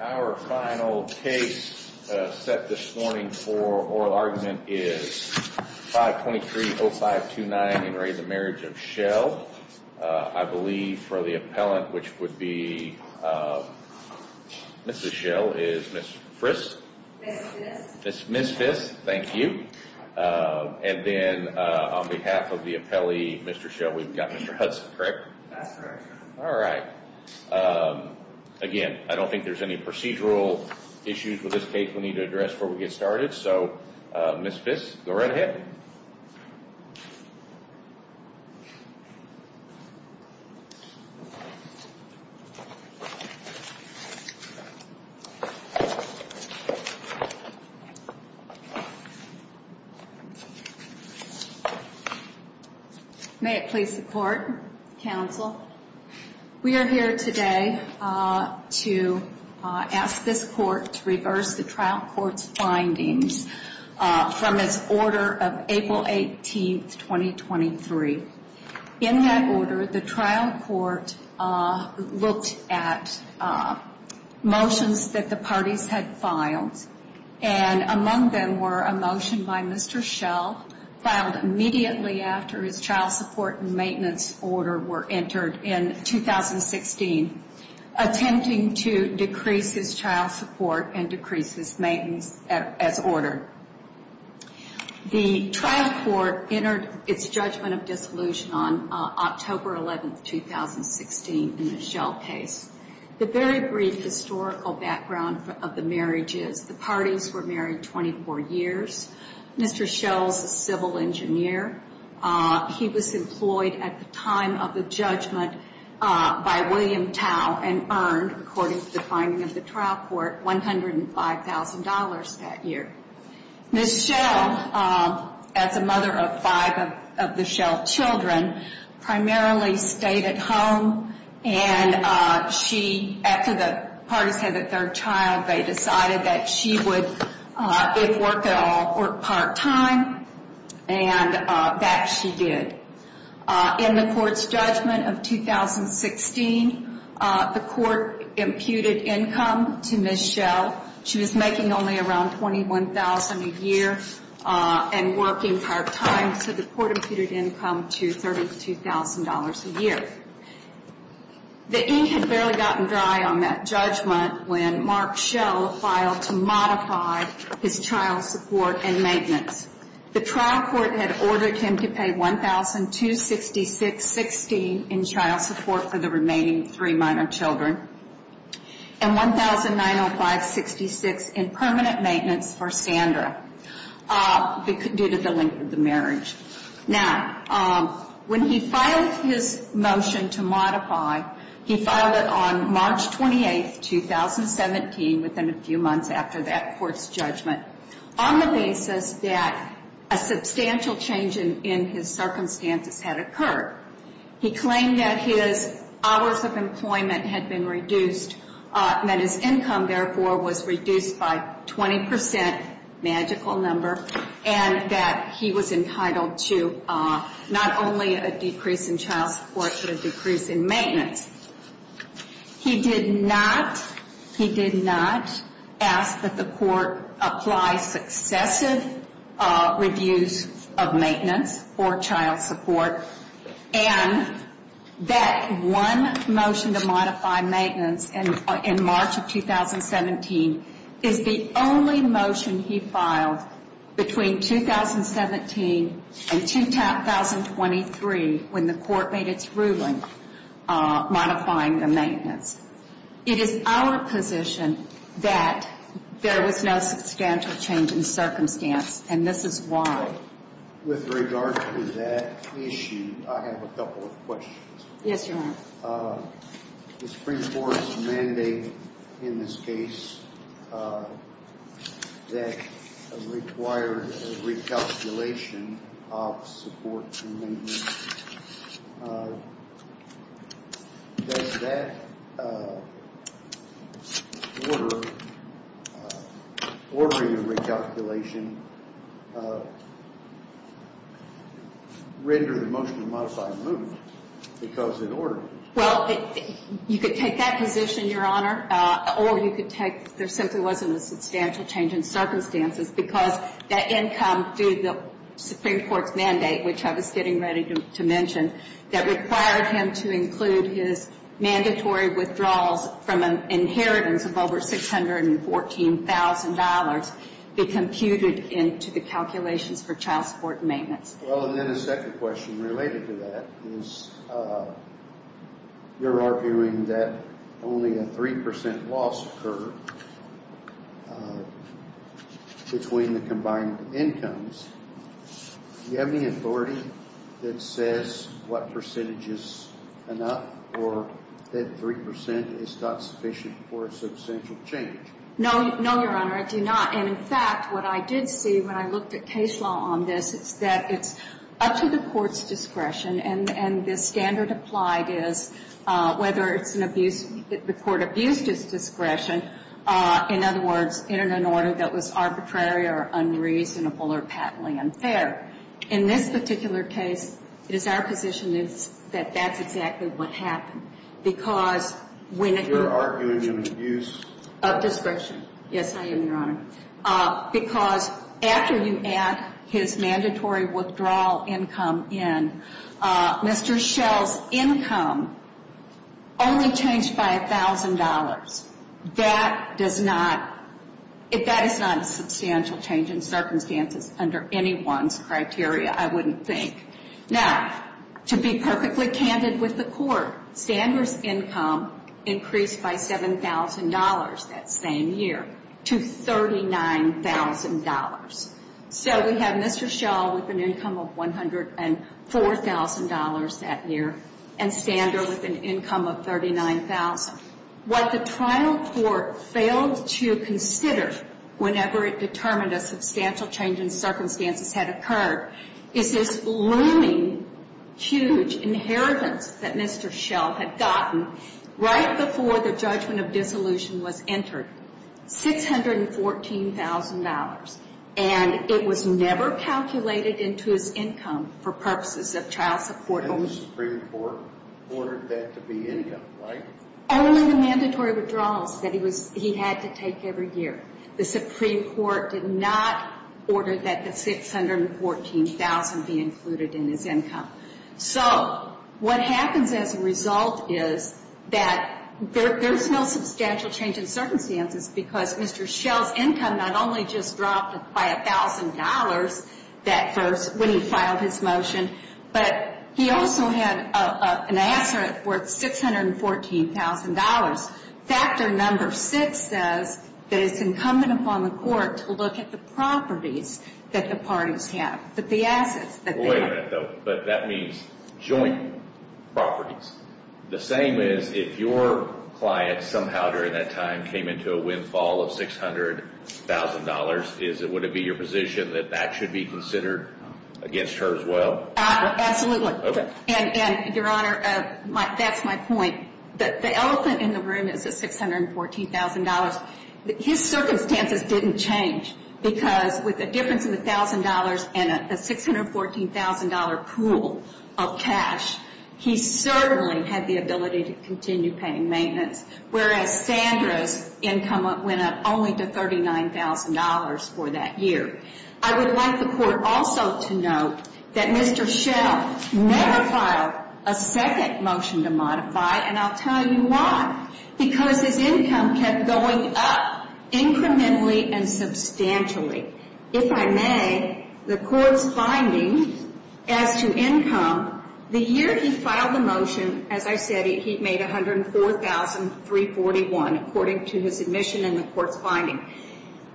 Our final case set this morning for oral argument is 523-0529 in the marriage of Schell. I believe for the appellant, which would be Mrs. Schell, is Ms. Frist? Ms. Fist. Ms. Fist, thank you. And then on behalf of the appellee, Mr. Schell, we've got Mr. Hudson, correct? That's correct. Alright. Again, I don't think there's any procedural issues with this case we need to address before we get started. So, Ms. Fist, go right ahead. May it please the Court, Counsel. We are here today to ask this Court to reverse the trial court's findings from its order of April 18, 2023. In that order, the trial court looked at motions that the parties had filed, and among them were a motion by Mr. Schell filed immediately after his child support and maintenance order were entered in 2016, attempting to decrease his child support and decrease his maintenance as ordered. The trial court entered its judgment of dissolution on October 11, 2016 in the Schell case. The very brief historical background of the marriage is the parties were married 24 years. Mr. Schell is a civil engineer. He was employed at the time of the judgment by William Tao and earned, according to the finding of the trial court, $105,000 that year. Ms. Schell, as a mother of five of the Schell children, primarily stayed at home, and she, after the parties had their child, they decided that she would, if work at all, work part-time, and that she did. In the court's judgment of 2016, the court imputed income to Ms. Schell. She was making only around $21,000 a year and working part-time, so the court imputed income to $32,000 a year. The ink had barely gotten dry on that judgment when Mark Schell filed to modify his child support and maintenance. The trial court had ordered him to pay $1,266.60 in child support for the remaining three minor children and $1,905.66 in permanent maintenance for Sandra due to the length of the marriage. Now, when he filed his motion to modify, he filed it on March 28, 2017, within a few months after that court's judgment, on the basis that a substantial change in his circumstances had occurred. He claimed that his hours of employment had been reduced and that his income, therefore, was reduced by 20 percent, a magical number, and that he was entitled to not only a decrease in child support but a decrease in maintenance. He did not ask that the court apply successive reviews of maintenance for child support, and that one motion to modify maintenance in March of 2017 is the only motion he filed between 2017 and 2023 when the court made its ruling modifying the maintenance. It is our position that there was no substantial change in circumstance, and this is why. With regard to that issue, I have a couple of questions. Yes, Your Honor. The Supreme Court's mandate in this case that required a recalculation of support and maintenance. Does that order, ordering a recalculation, render the motion to modify removed because it ordered it? Well, you could take that position, Your Honor, or you could take there simply wasn't a substantial change in circumstances because that income through the Supreme Court's mandate, which I was getting ready to mention, that required him to include his mandatory withdrawals from an inheritance of over $614,000 be computed into the calculations for child support and maintenance. Well, and then a second question related to that is you're arguing that only a 3% loss occurred between the combined incomes. Do you have any authority that says what percentage is enough or that 3% is not sufficient for a substantial change? No, Your Honor, I do not. And, in fact, what I did see when I looked at case law on this is that it's up to the Court's discretion, and the standard applied is whether it's an abuse, the Court abused its discretion, in other words, in an order that was arbitrary or unreasonable or patently unfair. In this particular case, it is our position that that's exactly what happened, because when it was. You're arguing an abuse. Of discretion. Yes, I am, Your Honor, because after you add his mandatory withdrawal income in, Mr. Schell's income only changed by $1,000. That does not, that is not a substantial change in circumstances under anyone's criteria, I wouldn't think. Now, to be perfectly candid with the Court, Sander's income increased by $7,000 that same year to $39,000. So we have Mr. Schell with an income of $104,000 that year and Sander with an income of $39,000. What the trial court failed to consider whenever it determined a substantial change in circumstances had occurred is this looming, huge inheritance that Mr. Schell had gotten right before the judgment of dissolution was entered, $614,000. And it was never calculated into his income for purposes of trial support only. And the Supreme Court ordered that to be income, right? Only the mandatory withdrawals that he was, he had to take every year. The Supreme Court did not order that the $614,000 be included in his income. So what happens as a result is that there's no substantial change in circumstances because Mr. Schell's income not only just dropped by $1,000 that first, when he filed his motion, but he also had an asset worth $614,000. Factor number six says that it's incumbent upon the court to look at the properties that the parties have, that the assets that they have. Wait a minute, though. But that means joint properties. The same is if your client somehow during that time came into a windfall of $600,000, would it be your position that that should be considered against her as well? Absolutely. And, Your Honor, that's my point. The elephant in the room is the $614,000. His circumstances didn't change because with a difference of $1,000 and a $614,000 pool of cash, he certainly had the ability to continue paying maintenance, whereas Sandra's income went up only to $39,000 for that year. I would like the court also to note that Mr. Schell never filed a second motion to modify, and I'll tell you why. Because his income kept going up incrementally and substantially. If I may, the court's finding as to income, the year he filed the motion, as I said, he made $104,341 according to his admission and the court's finding.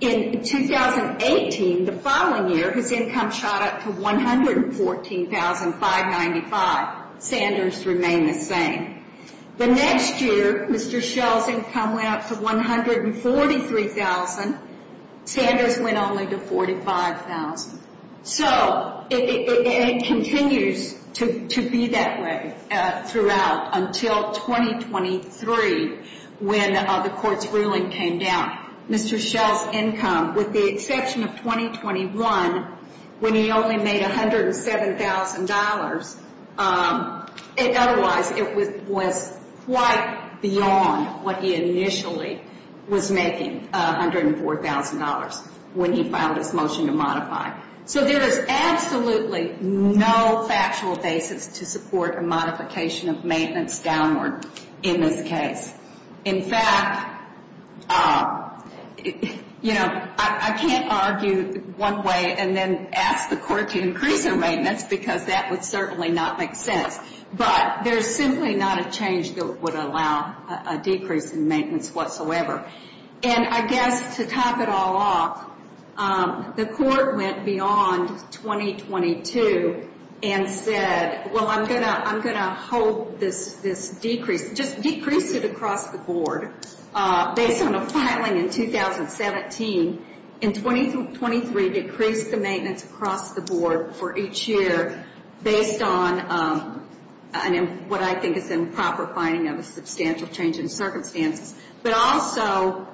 In 2018, the following year, his income shot up to $114,595. Sandra's remained the same. The next year, Mr. Schell's income went up to $143,000. Sandra's went only to $45,000. So it continues to be that way throughout until 2023 when the court's ruling came down. Mr. Schell's income, with the exception of 2021, when he only made $107,000, otherwise it was quite beyond what he initially was making, $104,000, when he filed his motion to modify. So there is absolutely no factual basis to support a modification of maintenance downward in this case. In fact, you know, I can't argue one way and then ask the court to increase their maintenance because that would certainly not make sense. But there's simply not a change that would allow a decrease in maintenance whatsoever. And I guess to top it all off, the court went beyond 2022 and said, well, I'm going to hold this decrease, just decrease it across the board based on a filing in 2017. In 2023, decrease the maintenance across the board for each year based on what I think is a proper finding of a substantial change in circumstances. But also,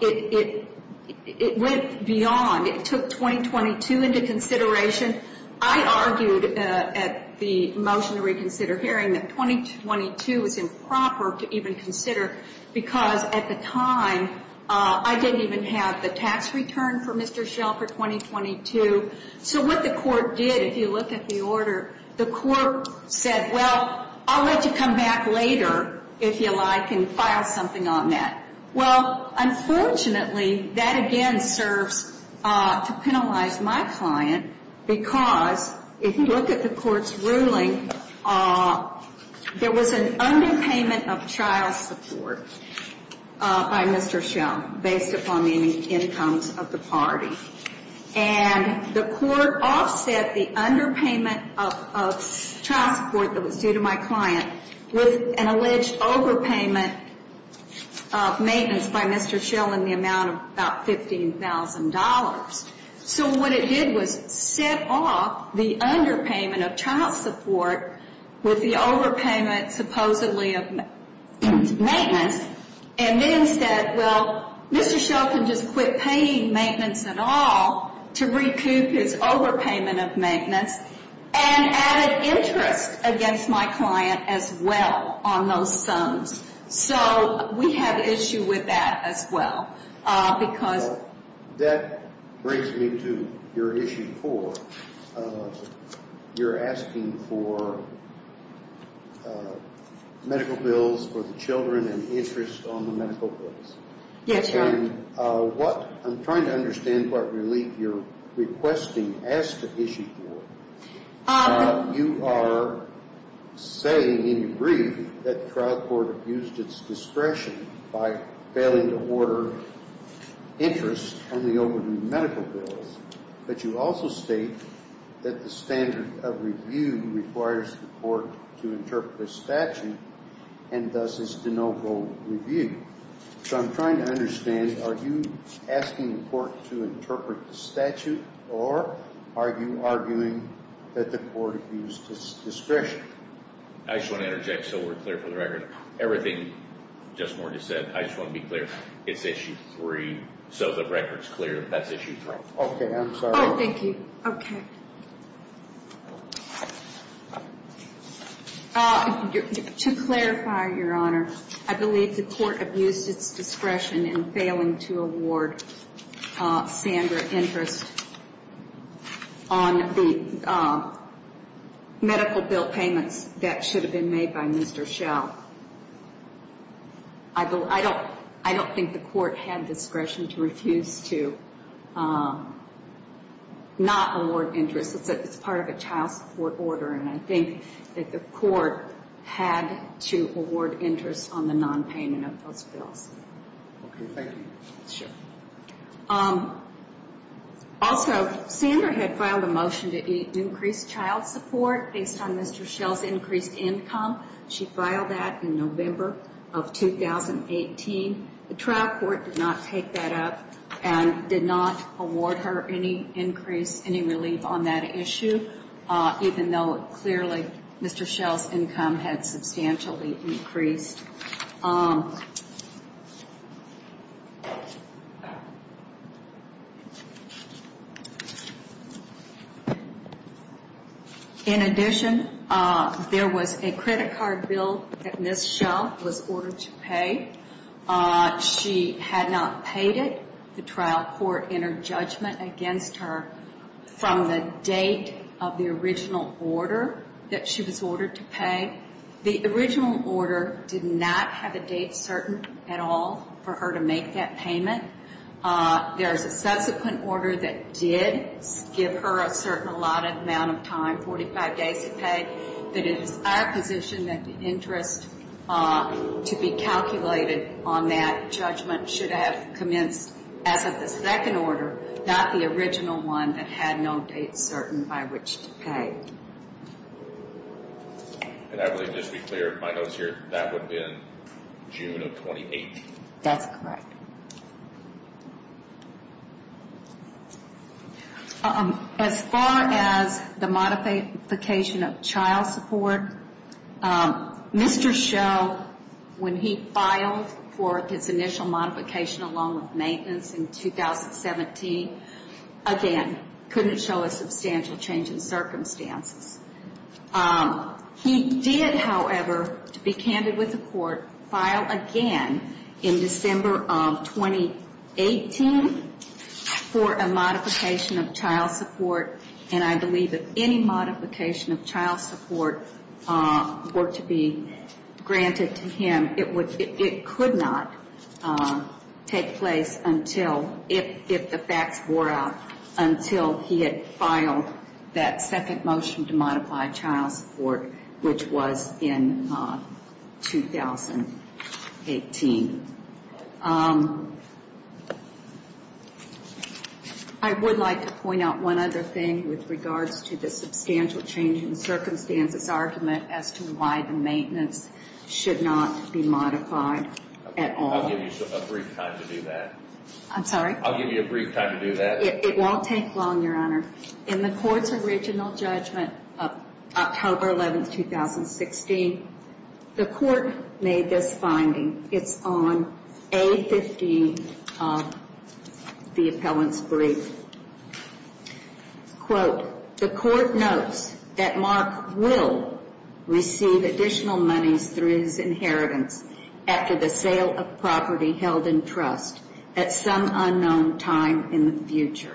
it went beyond. It took 2022 into consideration. I argued at the motion to reconsider hearing that 2022 is improper to even consider because at the time I didn't even have the tax return for Mr. Schell for 2022. So what the court did, if you look at the order, the court said, well, I'll let you come back later if you like and file something on that. Well, unfortunately, that again serves to penalize my client because if you look at the court's ruling, there was an underpayment of child support by Mr. Schell based upon the incomes of the party. And the court offset the underpayment of child support that was due to my client with an alleged overpayment of maintenance by Mr. Schell in the amount of about $15,000. So what it did was set off the underpayment of child support with the overpayment supposedly of maintenance and then said, well, Mr. Schell can just quit paying maintenance at all to recoup his overpayment of maintenance and added interest against my client as well on those sums. So we have an issue with that as well because. That brings me to your issue four. You're asking for medical bills for the children and interest on the medical bills. Yes, sir. I'm trying to understand what relief you're requesting as to issue four. You are saying in your brief that the trial court abused its discretion by failing to order interest on the overdue medical bills. But you also state that the standard of review requires the court to interpret a statute and thus is de novo review. So I'm trying to understand, are you asking the court to interpret the statute or are you arguing that the court abused its discretion? I just want to interject so we're clear for the record. Everything Judge Moore just said, I just want to be clear. It's issue three. So the record's clear that that's issue three. Okay, I'm sorry. Oh, thank you. Okay. To clarify, Your Honor, I believe the court abused its discretion in failing to award Sandra interest on the medical bill payments that should have been made by Mr. Schell. I don't think the court had discretion to refuse to not award interest. It's part of a child support order, and I think that the court had to award interest on the nonpayment of those bills. Okay, thank you. Sure. Also, Sandra had filed a motion to increase child support based on Mr. Schell's increased income. She filed that in November of 2018. The trial court did not take that up and did not award her any increase, any relief on that issue, even though clearly Mr. Schell's income had substantially increased. In addition, there was a credit card bill that Ms. Schell was ordered to pay. She had not paid it. The trial court entered judgment against her from the date of the original order that she was ordered to pay. The original order did not have a date certain at all for her to make that payment. There is a subsequent order that did give her a certain allotted amount of time, 45 days to pay, but it is our position that the interest to be calculated on that judgment should have commenced as of the second order, not the original one that had no date certain by which to pay. And I believe, just to be clear in my notes here, that would have been June of 2018. That's correct. As far as the modification of child support, Mr. Schell, when he filed for his initial modification along with maintenance in 2017, again, couldn't show a substantial change in circumstances. He did, however, to be candid with the court, file again in December of 2018 for a modification of child support, and I believe if any modification of child support were to be granted to him, it could not take place until, if the facts wore out, until he had filed that second motion to modify child support, which was in 2018. I would like to point out one other thing with regards to the substantial change in circumstances argument as to why the maintenance should not be modified at all. I'll give you a brief time to do that. I'm sorry? I'll give you a brief time to do that. It won't take long, Your Honor. In the court's original judgment of October 11, 2016, the court made this finding. It's on A15 of the appellant's brief. Quote, the court notes that Mark will receive additional monies through his inheritance after the sale of property held in trust at some unknown time in the future.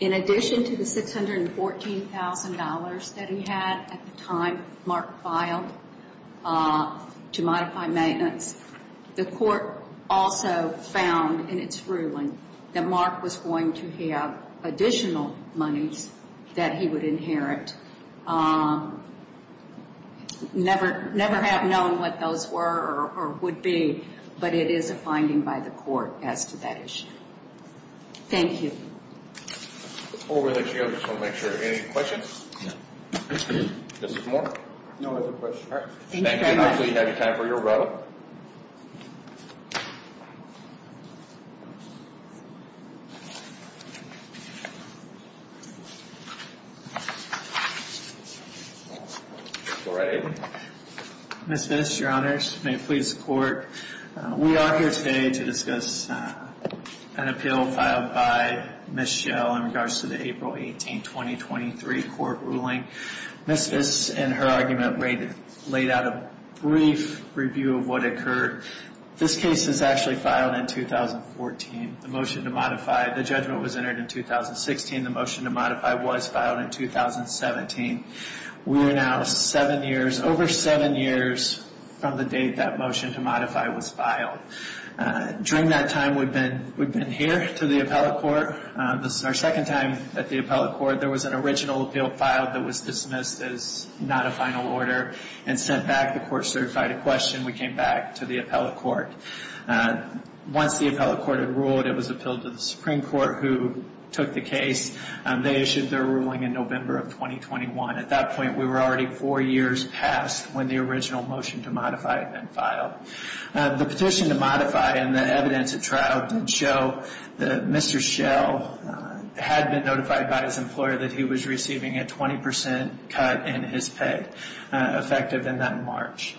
In addition to the $614,000 that he had at the time Mark filed to modify maintenance, the court also found in its ruling that Mark was going to have additional monies that he would inherit. Never have known what those were or would be, but it is a finding by the court as to that issue. Thank you. Before we let you go, I just want to make sure. Any questions? No. Justice Moore? No other questions. All right. Thank you very much. Thank you. Counsel, you have your time for your row. Go right ahead. Ms. Viss, Your Honor, may it please the court. We are here today to discuss an appeal filed by Ms. Schell in regards to the April 18, 2023 court ruling. Ms. Viss, in her argument, laid out a brief review of what occurred. This case is actually filed in 2014. The motion to modify the judgment was entered in 2016. The motion to modify was filed in 2017. We are now seven years, over seven years from the date that motion to modify was filed. During that time, we've been here to the appellate court. This is our second time at the appellate court. There was an original appeal filed that was dismissed as not a final order and sent back. The court certified a question. We came back to the appellate court. Once the appellate court had ruled, it was appealed to the Supreme Court, who took the case. They issued their ruling in November of 2021. At that point, we were already four years past when the original motion to modify had been filed. The petition to modify and the evidence at trial did show that Mr. Schell had been notified by his employer that he was receiving a 20% cut in his pay, effective in that March.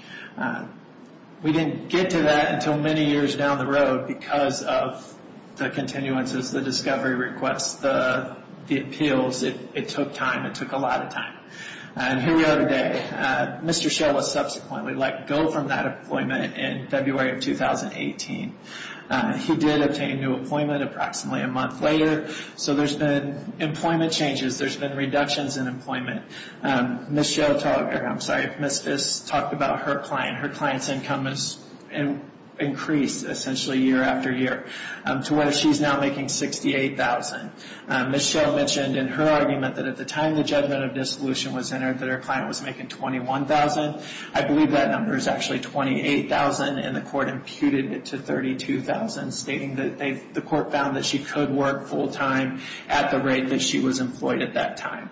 We didn't get to that until many years down the road because of the continuances, the discovery requests, the appeals. It took time. It took a lot of time. Here we are today. Mr. Schell was subsequently let go from that appointment in February of 2018. He did obtain a new appointment approximately a month later. There's been employment changes. There's been reductions in employment. Ms. Fiss talked about her client. Her client's income has increased essentially year after year to where she's now making $68,000. Ms. Schell mentioned in her argument that at the time the judgment of dissolution was entered that her client was making $21,000. I believe that number is actually $28,000, and the court imputed it to $32,000, stating that the court found that she could work full-time at the rate that she was employed at that time.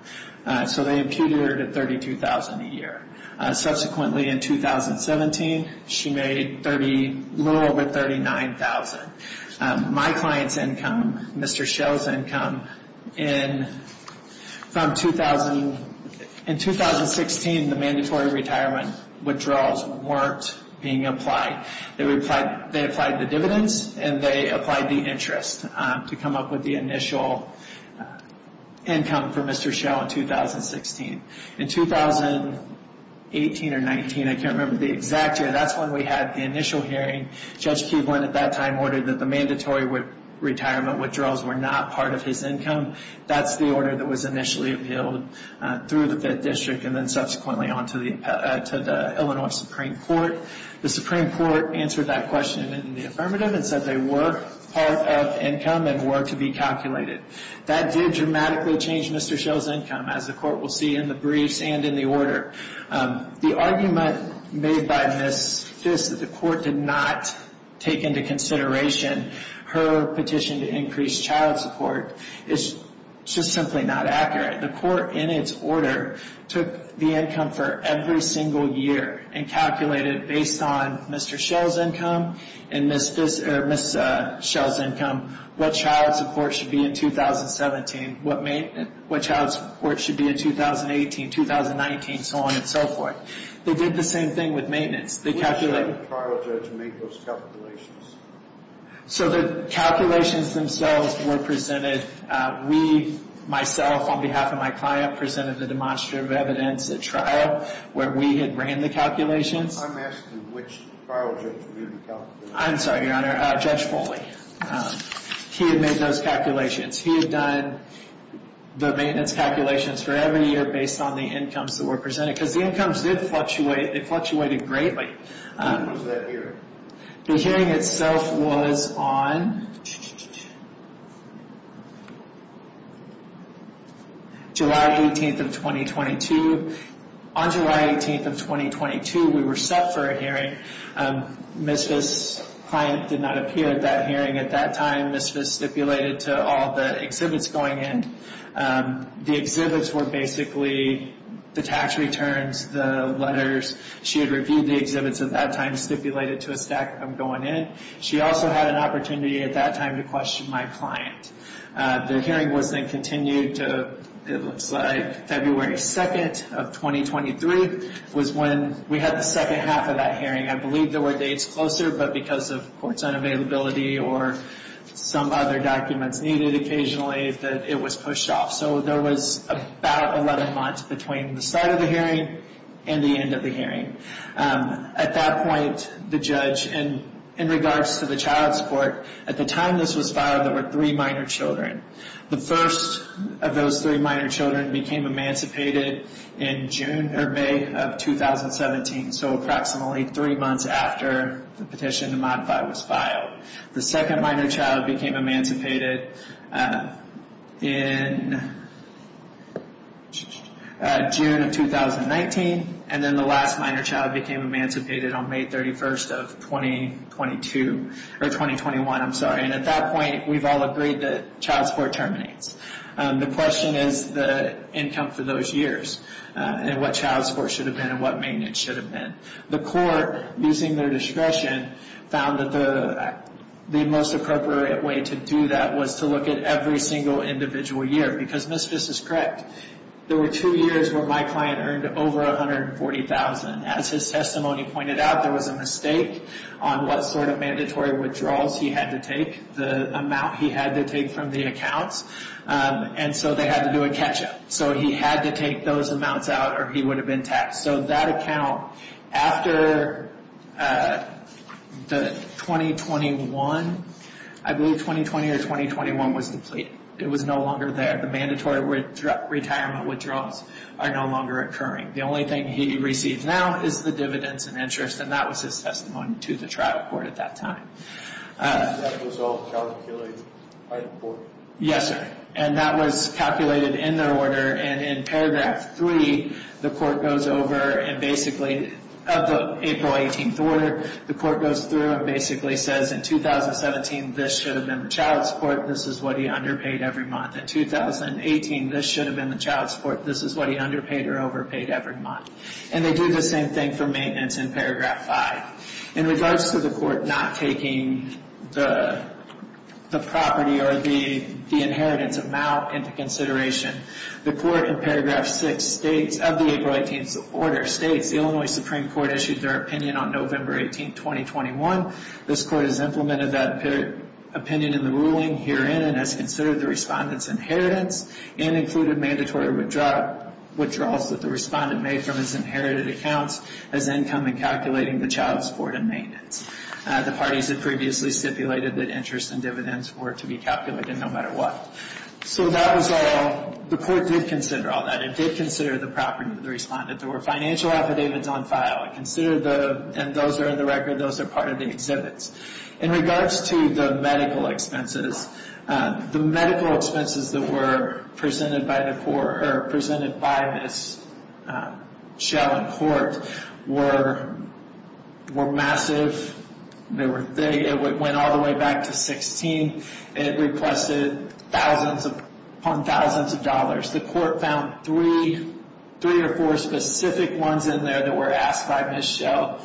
So they imputed her to $32,000 a year. Subsequently, in 2017, she made a little over $39,000. My client's income, Mr. Schell's income, in 2016, the mandatory retirement withdrawals weren't being applied. They applied the dividends, and they applied the interest to come up with the initial income for Mr. Schell in 2016. In 2018 or 19, I can't remember the exact year, that's when we had the initial hearing. Judge Keeblin at that time ordered that the mandatory retirement withdrawals were not part of his income. That's the order that was initially appealed through the Fifth District and then subsequently on to the Illinois Supreme Court. The Supreme Court answered that question in the affirmative and said they were part of income and were to be calculated. That did dramatically change Mr. Schell's income, as the court will see in the briefs and in the order. The argument made by Ms. Fisk that the court did not take into consideration her petition to increase child support is just simply not accurate. The court, in its order, took the income for every single year and calculated, based on Mr. Schell's income and Ms. Fisk's income, what child support should be in 2017, what child support should be in 2018, 2019, so on and so forth. They did the same thing with maintenance. Where did the trial judge make those calculations? The calculations themselves were presented. We, myself, on behalf of my client, presented the demonstrative evidence at trial where we had ran the calculations. I'm asking which trial judge reviewed the calculations. I'm sorry, Your Honor, Judge Foley. He had made those calculations. He had done the maintenance calculations for every year based on the incomes that were presented, because the incomes did fluctuate. They fluctuated greatly. When was that hearing? The hearing itself was on July 18th of 2022. On July 18th of 2022, we were set for a hearing. Ms. Fisk's client did not appear at that hearing at that time. Ms. Fisk stipulated to all the exhibits going in. The exhibits were basically the tax returns, the letters. She had reviewed the exhibits at that time, stipulated to a stack of them going in. She also had an opportunity at that time to question my client. The hearing was then continued to, it looks like, February 2nd of 2023 was when we had the second half of that hearing. I believe there were dates closer, but because of court's unavailability or some other documents needed occasionally, that it was pushed off. So there was about 11 months between the start of the hearing and the end of the hearing. At that point, the judge, in regards to the child support, at the time this was filed, there were three minor children. The first of those three minor children became emancipated in May of 2017, so approximately three months after the petition to modify was filed. The second minor child became emancipated in June of 2019. And then the last minor child became emancipated on May 31st of 2022, or 2021, I'm sorry. And at that point, we've all agreed that child support terminates. The question is the income for those years and what child support should have been and what maintenance should have been. The court, using their discretion, found that the most appropriate way to do that was to look at every single individual year. Because Ms. Viss is correct, there were two years where my client earned over $140,000. As his testimony pointed out, there was a mistake on what sort of mandatory withdrawals he had to take, the amount he had to take from the accounts. And so they had to do a catch-up. So he had to take those amounts out or he would have been taxed. So that account, after the 2021, I believe 2020 or 2021, was depleted. It was no longer there. The mandatory retirement withdrawals are no longer occurring. The only thing he receives now is the dividends and interest, and that was his testimony to the trial court at that time. That was all calculated by the court? Yes, sir. And that was calculated in their order. And in paragraph 3, the court goes over and basically, of the April 18th order, the court goes through and basically says, in 2017, this should have been the child support. This is what he underpaid every month. In 2018, this should have been the child support. This is what he underpaid or overpaid every month. And they do the same thing for maintenance in paragraph 5. In regards to the court not taking the property or the inheritance amount into consideration, the court in paragraph 6 states, of the April 18th order, states, the Illinois Supreme Court issued their opinion on November 18th, 2021. This court has implemented that opinion in the ruling herein and has considered the respondent's inheritance and included mandatory withdrawals that the respondent made from his inherited accounts as income in calculating the child support and maintenance. The parties had previously stipulated that interest and dividends were to be calculated no matter what. So that was all, the court did consider all that. It did consider the property of the respondent. There were financial affidavits on file. It considered the, and those are in the record, those are part of the exhibits. In regards to the medical expenses, the medical expenses that were presented by the court, or presented by Ms. Schell in court, were massive. It went all the way back to $16,000. It requested thousands upon thousands of dollars. The court found three or four specific ones in there that were asked by Ms. Schell,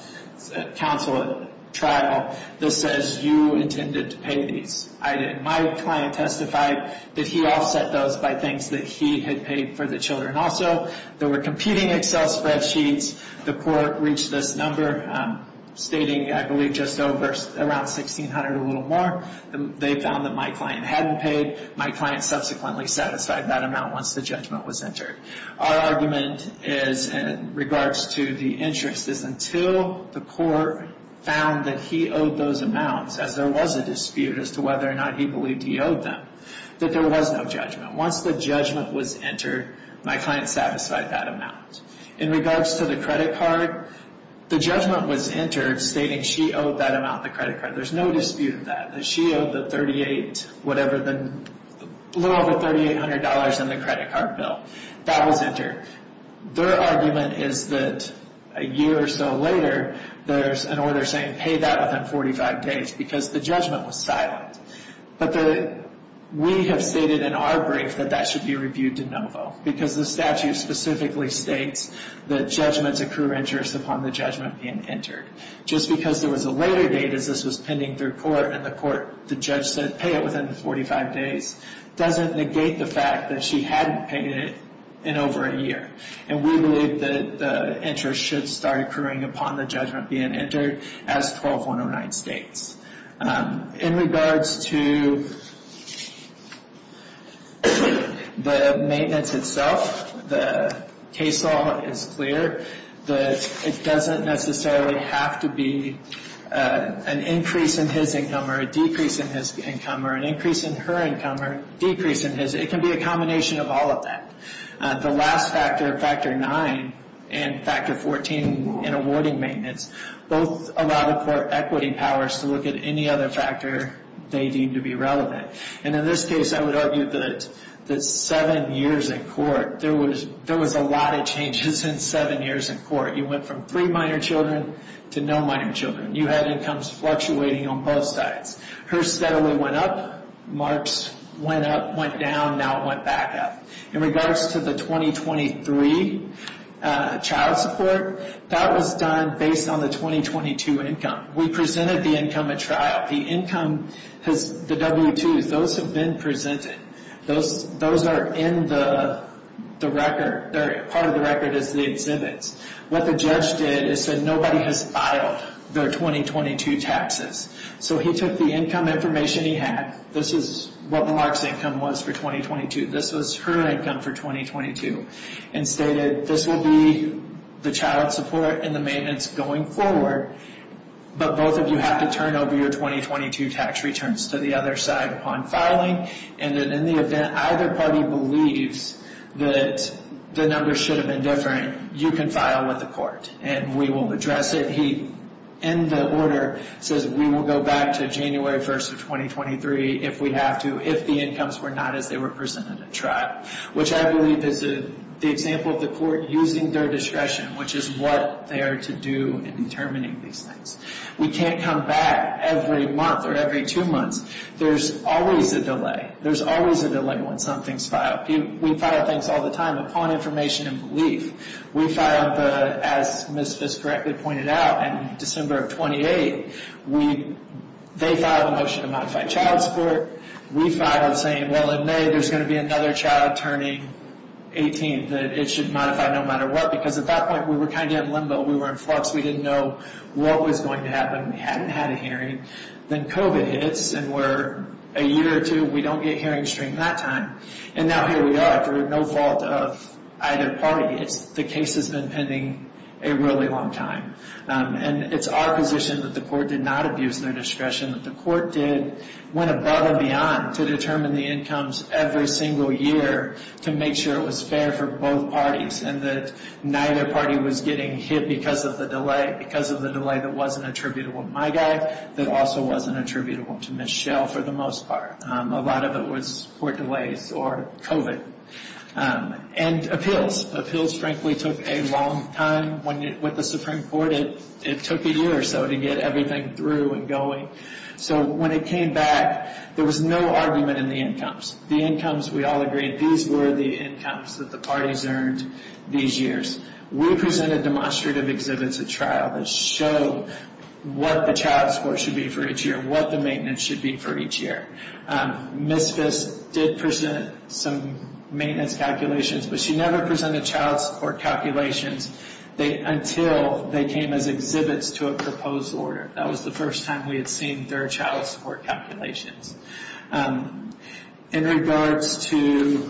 counsel at trial, that says you intended to pay these. I didn't. My client testified that he offset those by things that he had paid for the children also. There were competing Excel spreadsheets. The court reached this number, stating I believe just over, around $1,600 or a little more. They found that my client hadn't paid. My client subsequently satisfied that amount once the judgment was entered. Our argument is, in regards to the interest, is until the court found that he owed those amounts, as there was a dispute as to whether or not he believed he owed them, that there was no judgment. Once the judgment was entered, my client satisfied that amount. In regards to the credit card, the judgment was entered stating she owed that amount, the credit card. There's no dispute of that. She owed the $3,800 in the credit card bill. That was entered. Their argument is that a year or so later, there's an order saying pay that within 45 days, because the judgment was silent. We have stated in our brief that that should be reviewed de novo, because the statute specifically states that judgments accrue interest upon the judgment being entered. Just because there was a later date as this was pending through court and the court, the judge said pay it within 45 days, doesn't negate the fact that she hadn't paid it in over a year. And we believe that the interest should start accruing upon the judgment being entered as 12-109 states. In regards to the maintenance itself, the case law is clear. It doesn't necessarily have to be an increase in his income or a decrease in his income or an increase in her income or a decrease in his. It can be a combination of all of that. The last factor, Factor 9 and Factor 14 in awarding maintenance, both allow the court equity powers to look at any other factor they deem to be relevant. And in this case, I would argue that seven years in court, there was a lot of changes in seven years in court. You went from three minor children to no minor children. You had incomes fluctuating on both sides. Hers steadily went up. Mark's went up, went down. Now it went back up. In regards to the 2023 child support, that was done based on the 2022 income. We presented the income at trial. The income, the W-2s, those have been presented. Those are in the record. Part of the record is the exhibits. What the judge did is said nobody has filed their 2022 taxes. So he took the income information he had. This is what Mark's income was for 2022. This was her income for 2022. And stated this will be the child support and the maintenance going forward, but both of you have to turn over your 2022 tax returns to the other side upon filing. And then in the event either party believes that the numbers should have been different, you can file with the court, and we will address it. He, in the order, says we will go back to January 1st of 2023 if we have to, if the incomes were not as they were presented at trial, which I believe is the example of the court using their discretion, which is what they are to do in determining these things. We can't come back every month or every two months. There's always a delay. There's always a delay when something's filed. We file things all the time upon information and belief. We filed, as Ms. Fisk correctly pointed out, in December of 28, they filed a motion to modify child support. We filed saying, well, in May, there's going to be another child turning 18. It should modify no matter what, because at that point, we were kind of in limbo. We were in flux. We didn't know what was going to happen. We hadn't had a hearing. Then COVID hits, and we're a year or two, we don't get hearing stream that time. Now here we are. It's no fault of either party. The case has been pending a really long time. It's our position that the court did not abuse their discretion, that the court went above and beyond to determine the incomes every single year to make sure it was fair for both parties and that neither party was getting hit because of the delay, because of the delay that wasn't attributable to my guy, that also wasn't attributable to Michelle for the most part. A lot of it was court delays or COVID. And appeals. Appeals, frankly, took a long time. With the Supreme Court, it took a year or so to get everything through and going. So when it came back, there was no argument in the incomes. The incomes, we all agreed, these were the incomes that the parties earned these years. We presented demonstrative exhibits at trial that showed what the child support should be for each year, and what the maintenance should be for each year. Ms. Fisk did present some maintenance calculations, but she never presented child support calculations until they came as exhibits to a proposed order. That was the first time we had seen their child support calculations. In regards to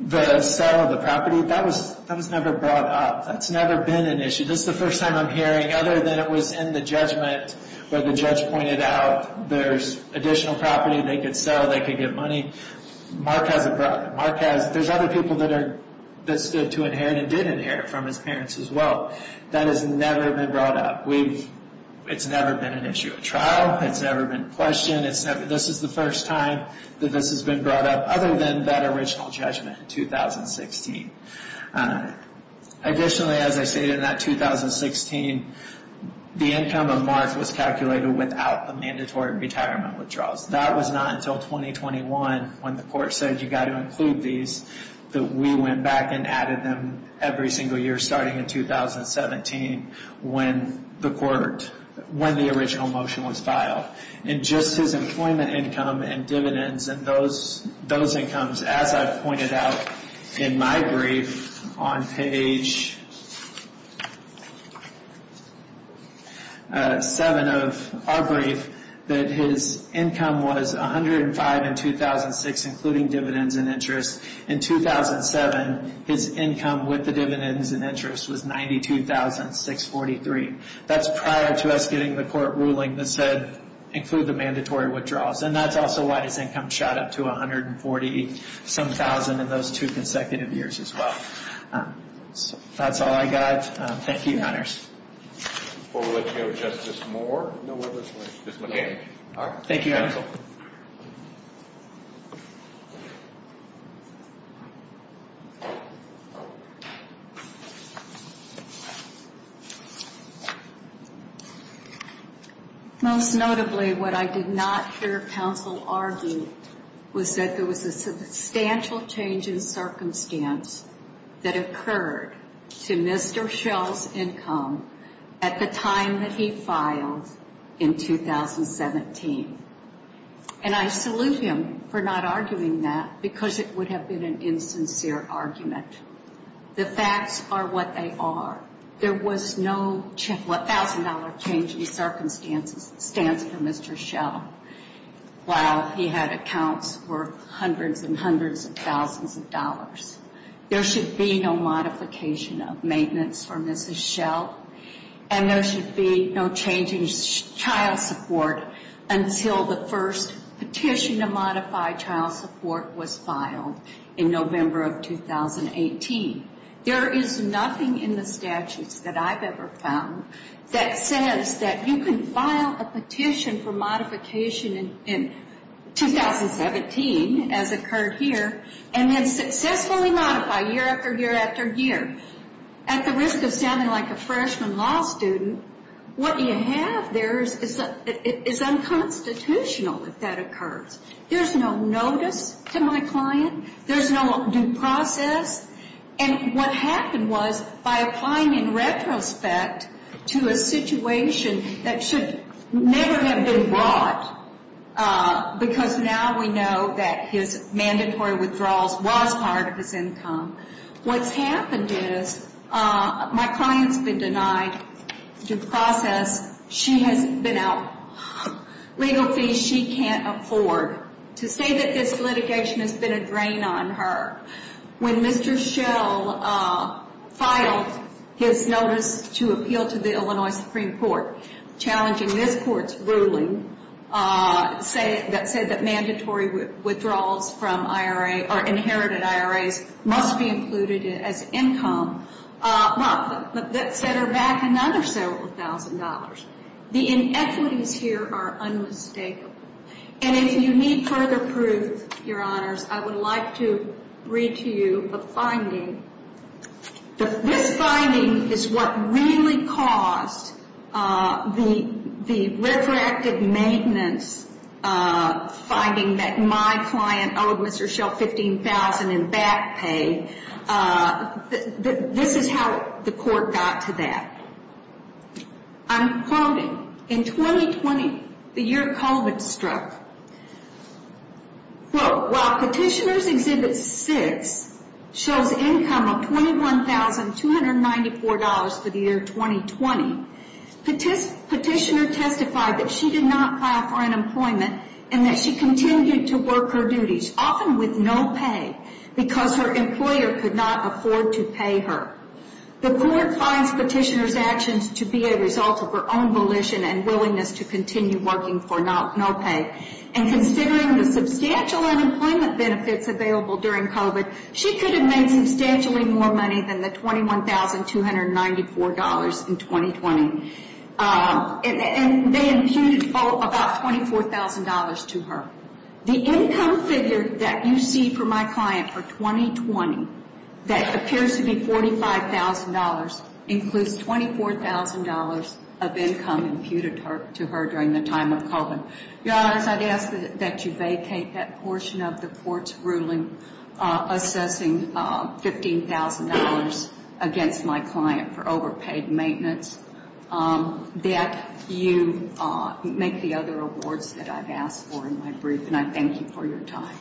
the sale of the property, that was never brought up. That's never been an issue. This is the first time I'm hearing, other than it was in the judgment where the judge pointed out there's additional property they could sell, they could get money, Mark hasn't brought it. There's other people that stood to inherit and didn't inherit from his parents as well. That has never been brought up. It's never been an issue at trial. It's never been questioned. This is the first time that this has been brought up, other than that original judgment in 2016. Additionally, as I stated in that 2016, the income of Mark was calculated without the mandatory retirement withdrawals. That was not until 2021, when the court said you've got to include these, that we went back and added them every single year starting in 2017 when the original motion was filed. Just his employment income and dividends and those incomes, as I've pointed out in my brief on page 7 of our brief, that his income was $105,000 in 2006, including dividends and interest. In 2007, his income with the dividends and interest was $92,643. That's prior to us getting the court ruling that said include the mandatory withdrawals. That's also why his income shot up to $140,000 in those two consecutive years as well. That's all I've got. Thank you, Your Honors. Before we let you go, Justice Moore, no others? Ms. McGinn. Thank you, Your Honor. Most notably, what I did not hear counsel argue was that there was a substantial change in circumstance that occurred to Mr. Schell's income at the time that he filed in 2017. And I salute him for not arguing that because it would have been an insincere argument. The facts are what they are. There was no $1,000 change in circumstance for Mr. Schell while he had accounts worth hundreds and hundreds of thousands of dollars. There should be no modification of maintenance for Mrs. Schell, and there should be no change in child support until the first petition to modify child support was filed in November of 2018. There is nothing in the statutes that I've ever found that says that you can file a petition for modification in 2017, as occurred here, and then successfully modify year after year after year at the risk of sounding like a freshman law student. What you have there is unconstitutional if that occurs. There's no notice to my client. There's no due process. And what happened was, by applying in retrospect to a situation that should never have been brought, because now we know that his mandatory withdrawals was part of his income, what's happened is my client's been denied due process. She has been out legal fees she can't afford to say that this litigation has been a drain on her. When Mr. Schell filed his notice to appeal to the Illinois Supreme Court, challenging this court's ruling that said that mandatory withdrawals from IRA or inherited IRAs must be included as income, that set her back another several thousand dollars. The inequities here are unmistakable. And if you need further proof, Your Honors, I would like to read to you a finding. This finding is what really caused the retroactive maintenance finding that my client owed Mr. Schell 15,000 in back pay. This is how the court got to that. I'm quoting. In 2020, the year COVID struck, quote, while Petitioner's Exhibit 6 shows income of $21,294 for the year 2020, Petitioner testified that she did not apply for unemployment and that she continued to work her duties, often with no pay, because her employer could not afford to pay her. The court finds Petitioner's actions to be a result of her own volition and willingness to continue working for no pay. And considering the substantial unemployment benefits available during COVID, she could have made substantially more money than the $21,294 in 2020. And they imputed about $24,000 to her. The income figure that you see for my client for 2020, that appears to be $45,000, includes $24,000 of income imputed to her during the time of COVID. Your Honors, I'd ask that you vacate that portion of the court's ruling assessing $15,000 against my client for overpaid maintenance. That you make the other awards that I've asked for in my brief. And I thank you for your time.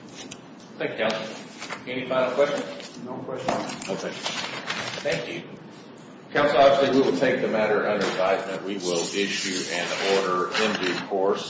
Thank you, Counsel. Any final questions? No questions. Okay. Thank you. Counsel, obviously we will take the matter under advisement. We will issue an order in due course.